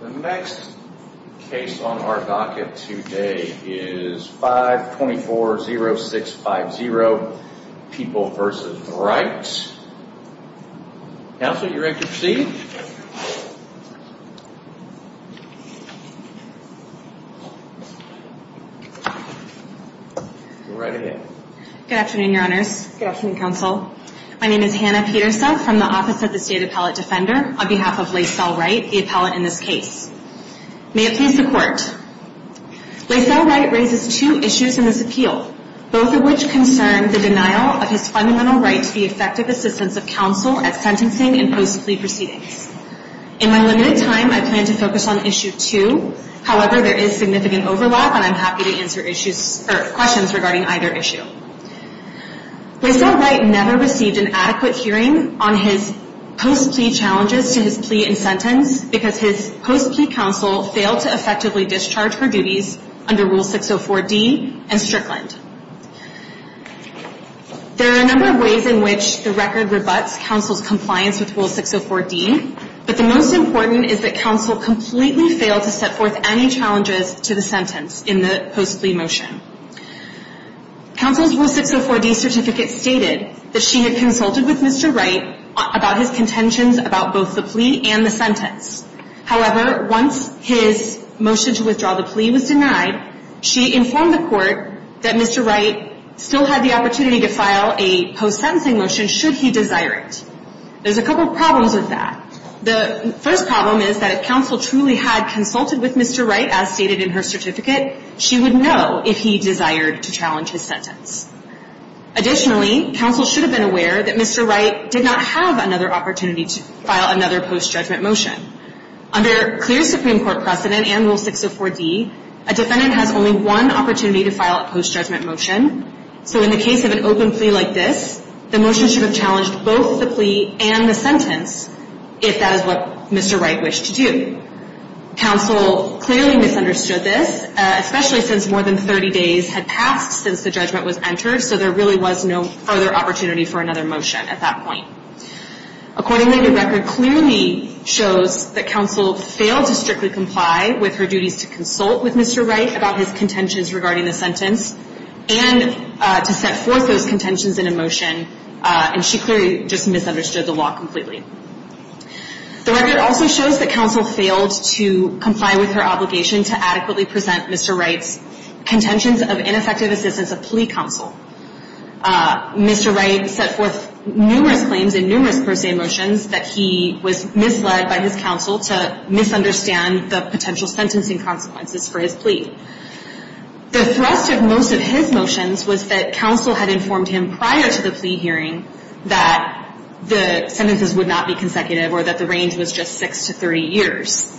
The next case on our docket today is 524-0650, People v. Wright. Counsel, you're ready to proceed. Go right ahead. Good afternoon, Your Honors. Good afternoon, Counsel. My name is Hannah Pieterse from the Office of the State Appellate Defender on behalf of Lacelle Wright, the appellate in this case. May it please the Court. Lacelle Wright raises two issues in this appeal, both of which concern the denial of his fundamental right to the effective assistance of counsel at sentencing and post-plea proceedings. In my limited time, I plan to focus on Issue 2. However, there is significant overlap, and I'm happy to answer questions regarding either issue. Lacelle Wright never received an adequate hearing on his post-plea challenges to his plea and sentence, because his post-plea counsel failed to effectively discharge her duties under Rule 604D and Strickland. There are a number of ways in which the record rebuts counsel's compliance with Rule 604D, but the most important is that counsel completely failed to set forth any challenges to the sentence in the post-plea motion. Counsel's Rule 604D certificate stated that she had consulted with Mr. Wright about his contentions about both the plea and the sentence. However, once his motion to withdraw the plea was denied, she informed the Court that Mr. Wright still had the opportunity to file a post-sentencing motion should he desire it. There's a couple problems with that. The first problem is that if counsel truly had consulted with Mr. Wright as stated in her certificate, she would know if he desired to challenge his sentence. Additionally, counsel should have been aware that Mr. Wright did not have another opportunity to file another post-judgment motion. Under clear Supreme Court precedent and Rule 604D, a defendant has only one opportunity to file a post-judgment motion. So in the case of an open plea like this, the motion should have challenged both the plea and the sentence, if that is what Mr. Wright wished to do. Counsel clearly misunderstood this, especially since more than 30 days had passed since the judgment was entered, so there really was no further opportunity for another motion at that point. Accordingly, the record clearly shows that counsel failed to strictly comply with her duties to consult with Mr. Wright about his contentions regarding the sentence and to set forth those contentions in a motion, and she clearly just misunderstood the law completely. The record also shows that counsel failed to comply with her obligation to adequately present Mr. Wright's contentions of ineffective assistance of plea counsel. Mr. Wright set forth numerous claims and numerous per se motions that he was misled by his counsel to misunderstand the potential sentencing consequences for his plea. The thrust of most of his motions was that counsel had informed him prior to the plea hearing that the sentences would not be consecutive or that the range was just 6 to 30 years.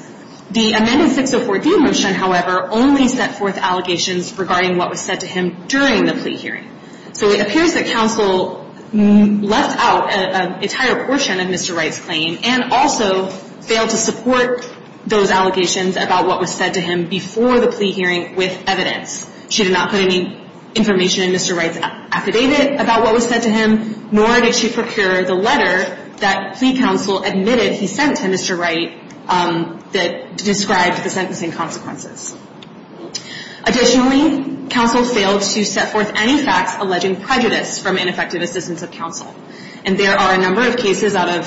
The amended 604D motion, however, only set forth allegations regarding what was said to him during the plea hearing. So it appears that counsel left out an entire portion of Mr. Wright's claim and also failed to support those allegations about what was said to him before the plea hearing with evidence. She did not put any information in Mr. Wright's affidavit about what was said to him, nor did she procure the letter that plea counsel admitted he sent to Mr. Wright that described the sentencing consequences. Additionally, counsel failed to set forth any facts alleging prejudice from ineffective assistance of counsel. And there are a number of cases out of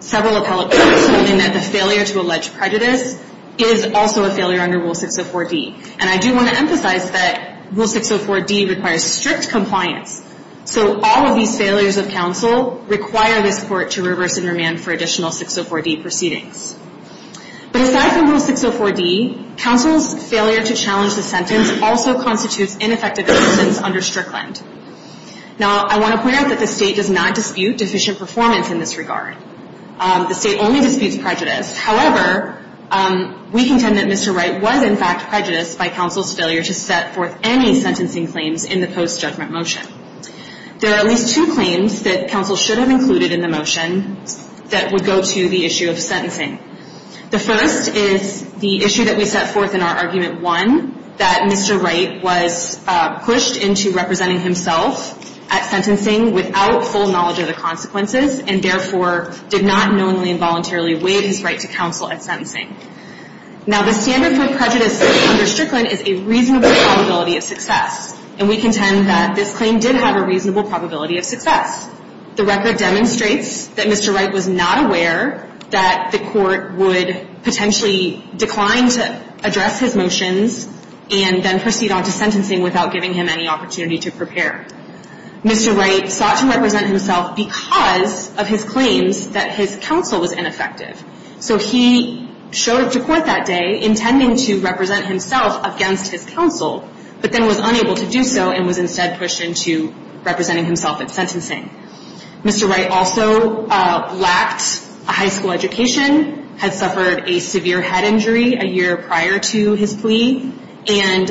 several appellate courts holding that the failure to allege prejudice is also a failure under Rule 604D. And I do want to emphasize that Rule 604D requires strict compliance. So all of these failures of counsel require this Court to reverse and remand for additional 604D proceedings. But aside from Rule 604D, counsel's failure to challenge the sentence also constitutes ineffective assistance under Strickland. Now, I want to point out that the State does not dispute deficient performance in this regard. The State only disputes prejudice. However, we contend that Mr. Wright was, in fact, prejudiced by counsel's failure to set forth any sentencing claims in the post-judgment motion. There are at least two claims that counsel should have included in the motion that would go to the issue of sentencing. The first is the issue that we set forth in our Argument 1, that Mr. Wright was pushed into representing himself at sentencing without full knowledge of the consequences and therefore did not knowingly and voluntarily waive his right to counsel at sentencing. Now, the standard for prejudice under Strickland is a reasonable probability of success. And we contend that this claim did have a reasonable probability of success. The record demonstrates that Mr. Wright was not aware that the Court would potentially decline to address his motions and then proceed on to sentencing without giving him any opportunity to prepare. Mr. Wright sought to represent himself because of his claims that his counsel was ineffective. So he showed up to court that day intending to represent himself against his counsel, but then was unable to do so and was instead pushed into representing himself at sentencing. Mr. Wright also lacked a high school education, had suffered a severe head injury a year prior to his plea, and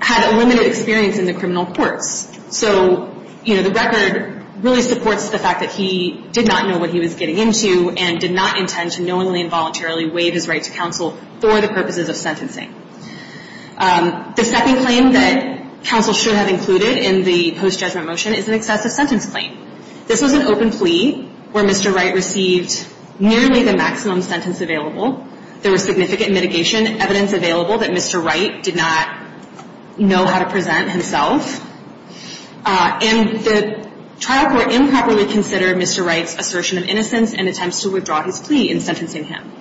had limited experience in the criminal courts. So, you know, the record really supports the fact that he did not know what he was getting into and did not intend to knowingly and voluntarily waive his right to counsel for the purposes of sentencing. The second claim that counsel should have included in the post-judgment motion is an excessive sentence claim. This was an open plea where Mr. Wright received nearly the maximum sentence available. There was significant mitigation evidence available that Mr. Wright did not know how to present himself. And the trial court improperly considered Mr. Wright's assertion of innocence and attempts to withdraw his plea in sentencing him.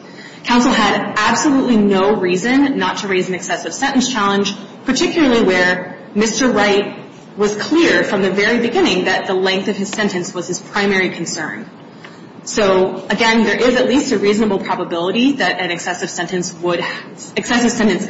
Counsel had absolutely no reason not to raise an excessive sentence challenge, particularly where Mr. Wright was clear from the very beginning that the length of his sentence was his primary concern. So, again, there is at least a reasonable probability that an excessive sentence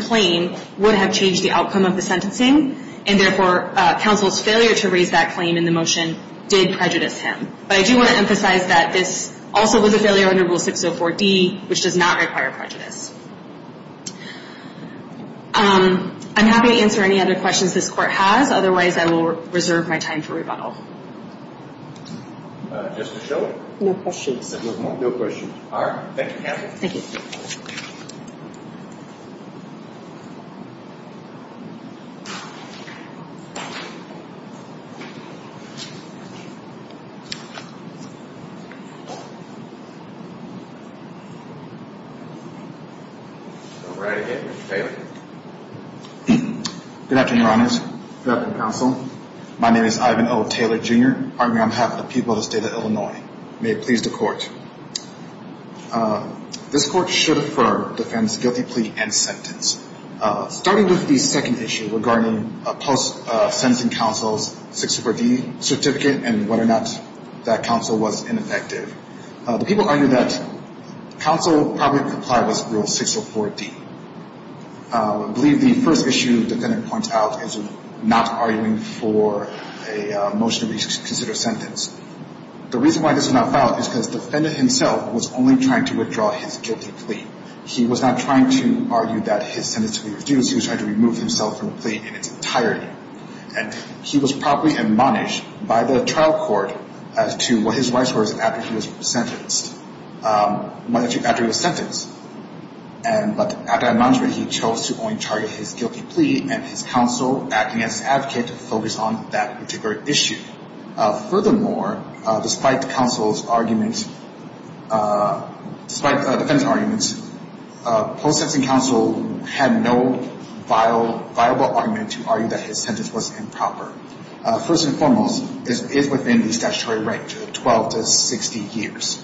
claim would have changed the outcome of the sentencing. And therefore, counsel's failure to raise that claim in the motion did prejudice him. But I do want to emphasize that this also was a failure under Rule 604D, which does not require prejudice. I'm happy to answer any other questions this Court has. Otherwise, I will reserve my time for rebuttal. Just to show it? No questions. No questions. All right. Thank you, counsel. Thank you. Go right ahead, Mr. Taylor. Good afternoon, Your Honors. Good afternoon, counsel. My name is Ivan O. Taylor, Jr., arguing on behalf of the people of the State of Illinois. May it please the Court. This Court should defer the defendant's guilty plea and sentence. Starting with the second issue regarding post-sentencing counsel's 604D certificate and whether or not that counsel was ineffective. The people argued that counsel probably complied with Rule 604D. I believe the first issue the defendant points out is not arguing for a motion to reconsider sentence. The reason why this was not filed is because the defendant himself was only trying to withdraw his guilty plea. He was not trying to argue that his sentence should be reduced. He was trying to remove himself from the plea in its entirety. And he was probably admonished by the trial court as to what his rights were after he was sentenced. But after admonishment, he chose to only target his guilty plea, and his counsel, acting as an advocate, focused on that particular issue. Furthermore, despite the defense argument, post-sentencing counsel had no viable argument to argue that his sentence was improper. First and foremost, this is within the statutory range of 12 to 60 years.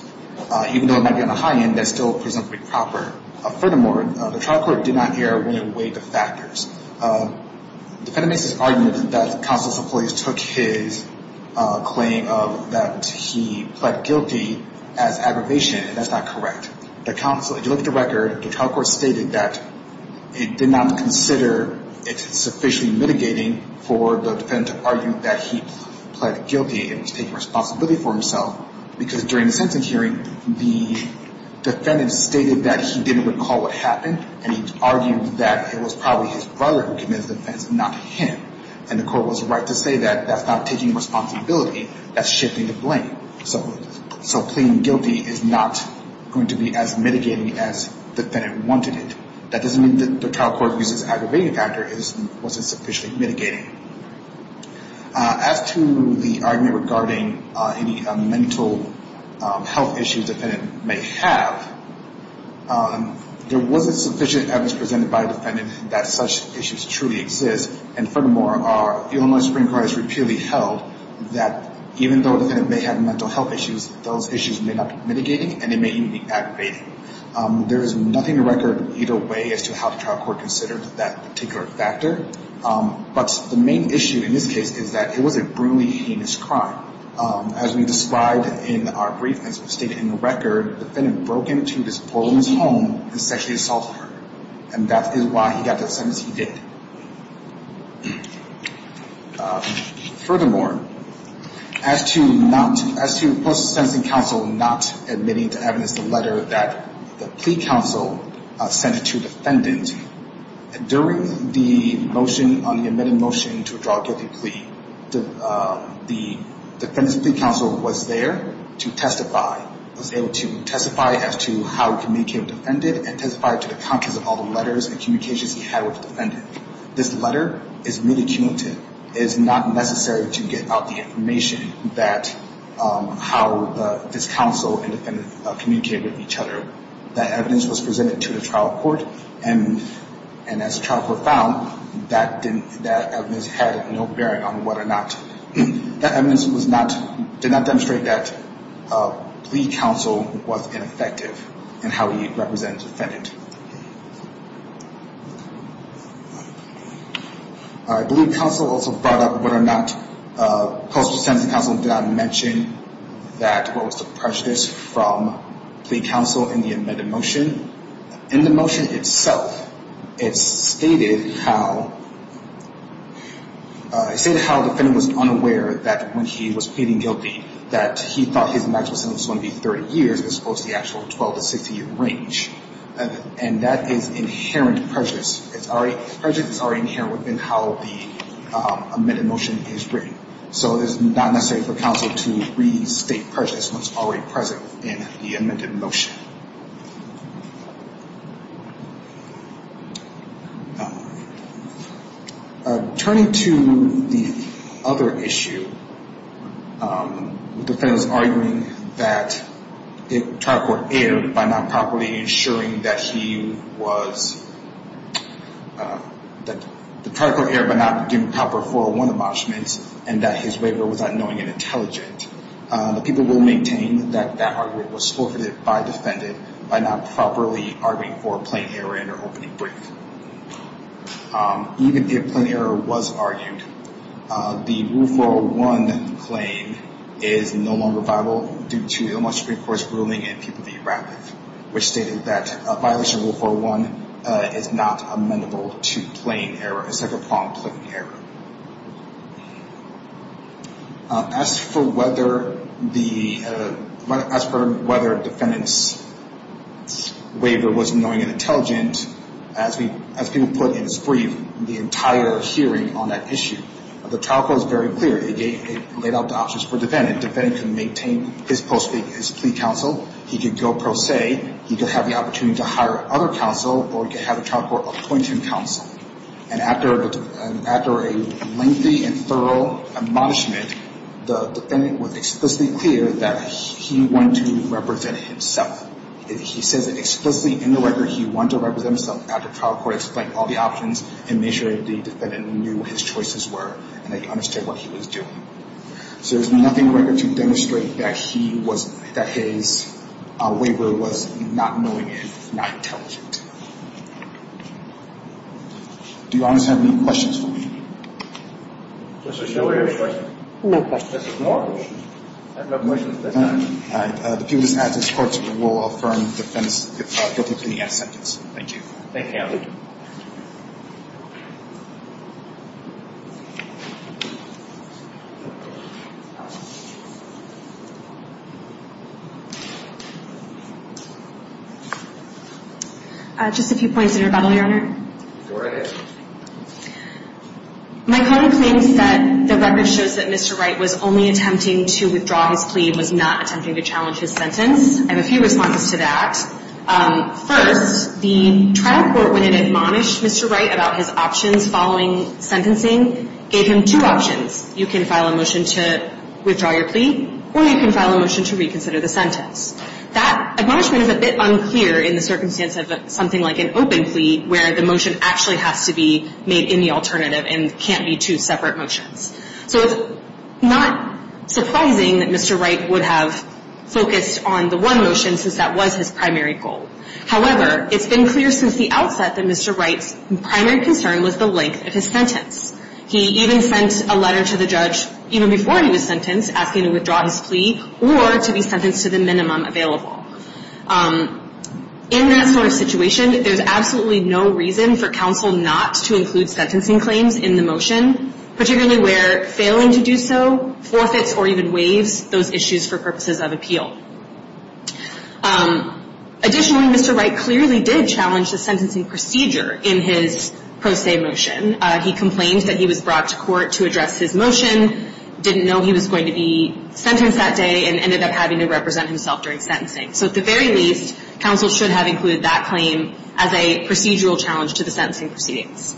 Even though it might be on the high end, that's still presumably proper. Furthermore, the trial court did not err when it weighed the factors. The defendant makes this argument that counsel's employees took his claim of that he pled guilty as aggravation, and that's not correct. The counsel, if you look at the record, the trial court stated that it did not consider it sufficiently mitigating for the defendant to argue that he pled guilty and was taking responsibility for himself, because during the sentence hearing, the defendant stated that he didn't recall what happened, and he argued that it was probably his brother who committed the offense, not him. And the court was right to say that that's not taking responsibility. That's shifting the blame. So pleading guilty is not going to be as mitigating as the defendant wanted it. That doesn't mean that the trial court used its aggravation factor. It wasn't sufficiently mitigating. As to the argument regarding any mental health issues the defendant may have, there wasn't sufficient evidence presented by the defendant that such issues truly exist, and furthermore, the Illinois Supreme Court has repeatedly held that even though the defendant may have mental health issues, those issues may not be mitigating, and they may even be aggravating. There is nothing in the record either way as to how the trial court considered that particular factor, but the main issue in this case is that it was a brutally heinous crime. As we described in our brief, as stated in the record, the defendant broke into this poor woman's home and sexually assaulted her, and that is why he got the sentence he did. Furthermore, as to the Post-Sentencing Council not admitting to evidence the letter that the plea council sent to the defendant, during the motion on the amended motion to withdraw guilty plea, the defendant's plea council was there to testify, was able to testify as to how he communicated with the defendant and testified to the contents of all the letters and communications he had with the defendant. This letter is really cumulative. It is not necessary to get out the information that how this council and the defendant communicated with each other. That evidence was presented to the trial court, and as the trial court found, that evidence had no bearing on whether or not, that evidence did not demonstrate that plea council was ineffective in how he represented the defendant. I believe the council also brought up whether or not Post-Sentencing Council did not mention that there was a prejudice from plea council in the amended motion. In the motion itself, it stated how the defendant was unaware that when he was pleading guilty, that he thought his maximum sentence was going to be 30 years as opposed to the actual 12- to 16-year range, and that is inherent prejudice. Prejudice is already inherent within how the amended motion is written, so it is not necessary for council to restate prejudice when it is already present in the amended motion. Turning to the other issue, the defendant is arguing that the trial court erred by not properly ensuring that he was, that the trial court erred by not doing proper 401 abolishments, and that his waiver was unknowing and intelligent. The people will maintain that that argument was forfeited by the defendant by not properly arguing for a plain error in their opening brief. Even if a plain error was argued, the Rule 401 claim is no longer viable due to the Ombudsman Supreme Court's ruling in People v. Radcliffe, which stated that a violation of Rule 401 is not amendable to plain error. It's like a wrong claim error. As for whether the defendant's waiver was knowing and intelligent, as people put in his brief, the entire hearing on that issue, the trial court was very clear. It laid out the options for the defendant. The defendant could maintain his plea counsel. He could go pro se. He could have the opportunity to hire other counsel, or he could have the trial court appoint him counsel. And after a lengthy and thorough admonishment, the defendant was explicitly clear that he wanted to represent himself. He says explicitly in the record he wanted to represent himself at the trial court, explain all the options, and make sure the defendant knew what his choices were and that he understood what he was doing. So there's nothing in the record to demonstrate that his waiver was not knowing and not intelligent. Do you officers have any questions for me? No questions. I have no questions at this time. The people present at this court will affirm the defendant's guilty plea as sentenced. Thank you. Thank you, Your Honor. Just a few points in rebuttal, Your Honor. Go ahead. My colleague claims that the record shows that Mr. Wright was only attempting to withdraw his plea and was not attempting to challenge his sentence. I have a few responses to that. First, the trial court, when it admonished Mr. Wright about his options following sentencing, gave him two options. You can file a motion to withdraw your plea, or you can file a motion to reconsider the sentence. That admonishment is a bit unclear in the circumstance of something like an open plea where the motion actually has to be made in the alternative and can't be two separate motions. So it's not surprising that Mr. Wright would have focused on the one motion since that was his primary goal. However, it's been clear since the outset that Mr. Wright's primary concern was the length of his sentence. He even sent a letter to the judge even before he was sentenced asking to withdraw his plea or to be sentenced to the minimum available. In that sort of situation, there's absolutely no reason for counsel not to include sentencing claims in the motion, particularly where failing to do so forfeits or even waives those issues for purposes of appeal. Additionally, Mr. Wright clearly did challenge the sentencing procedure in his pro se motion. He complained that he was brought to court to address his motion, didn't know he was going to be sentenced that day, and ended up having to represent himself during sentencing. So at the very least, counsel should have included that claim as a procedural challenge to the sentencing proceedings.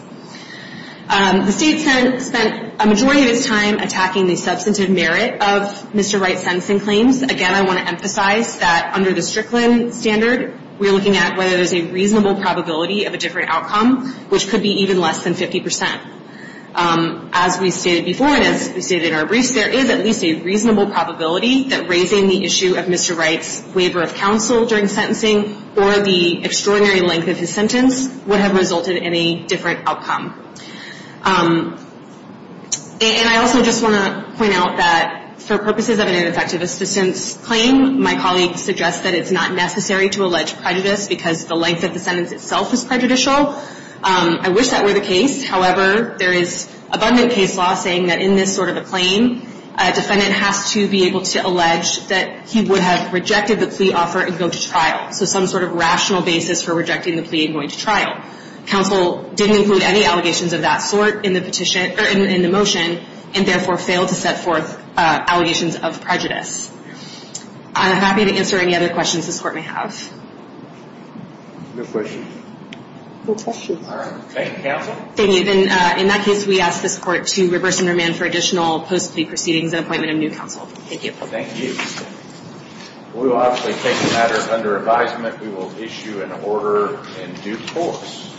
The state spent a majority of its time attacking the substantive merit of Mr. Wright's sentencing claims. Again, I want to emphasize that under the Strickland standard, we're looking at whether there's a reasonable probability of a different outcome, which could be even less than 50 percent. As we stated before and as we stated in our briefs, there is at least a reasonable probability that raising the issue of Mr. Wright's waiver of counsel during sentencing or the extraordinary length of his sentence would have resulted in a different outcome. And I also just want to point out that for purposes of an ineffective assistance claim, my colleague suggests that it's not necessary to allege prejudice because the length of the sentence itself is prejudicial. I wish that were the case. However, there is abundant case law saying that in this sort of a claim, a defendant has to be able to allege that he would have rejected the plea offer and go to trial. So some sort of rational basis for rejecting the plea and going to trial. Counsel didn't include any allegations of that sort in the petition or in the motion and therefore failed to set forth allegations of prejudice. I'm happy to answer any other questions this Court may have. No questions? No questions. All right. Thank you, Counsel. Thank you. In that case, we ask this Court to reverse and remand for additional post-plea proceedings and appointment of new counsel. Thank you. Thank you. We will obviously take the matter under advisement. We will issue an order in due course.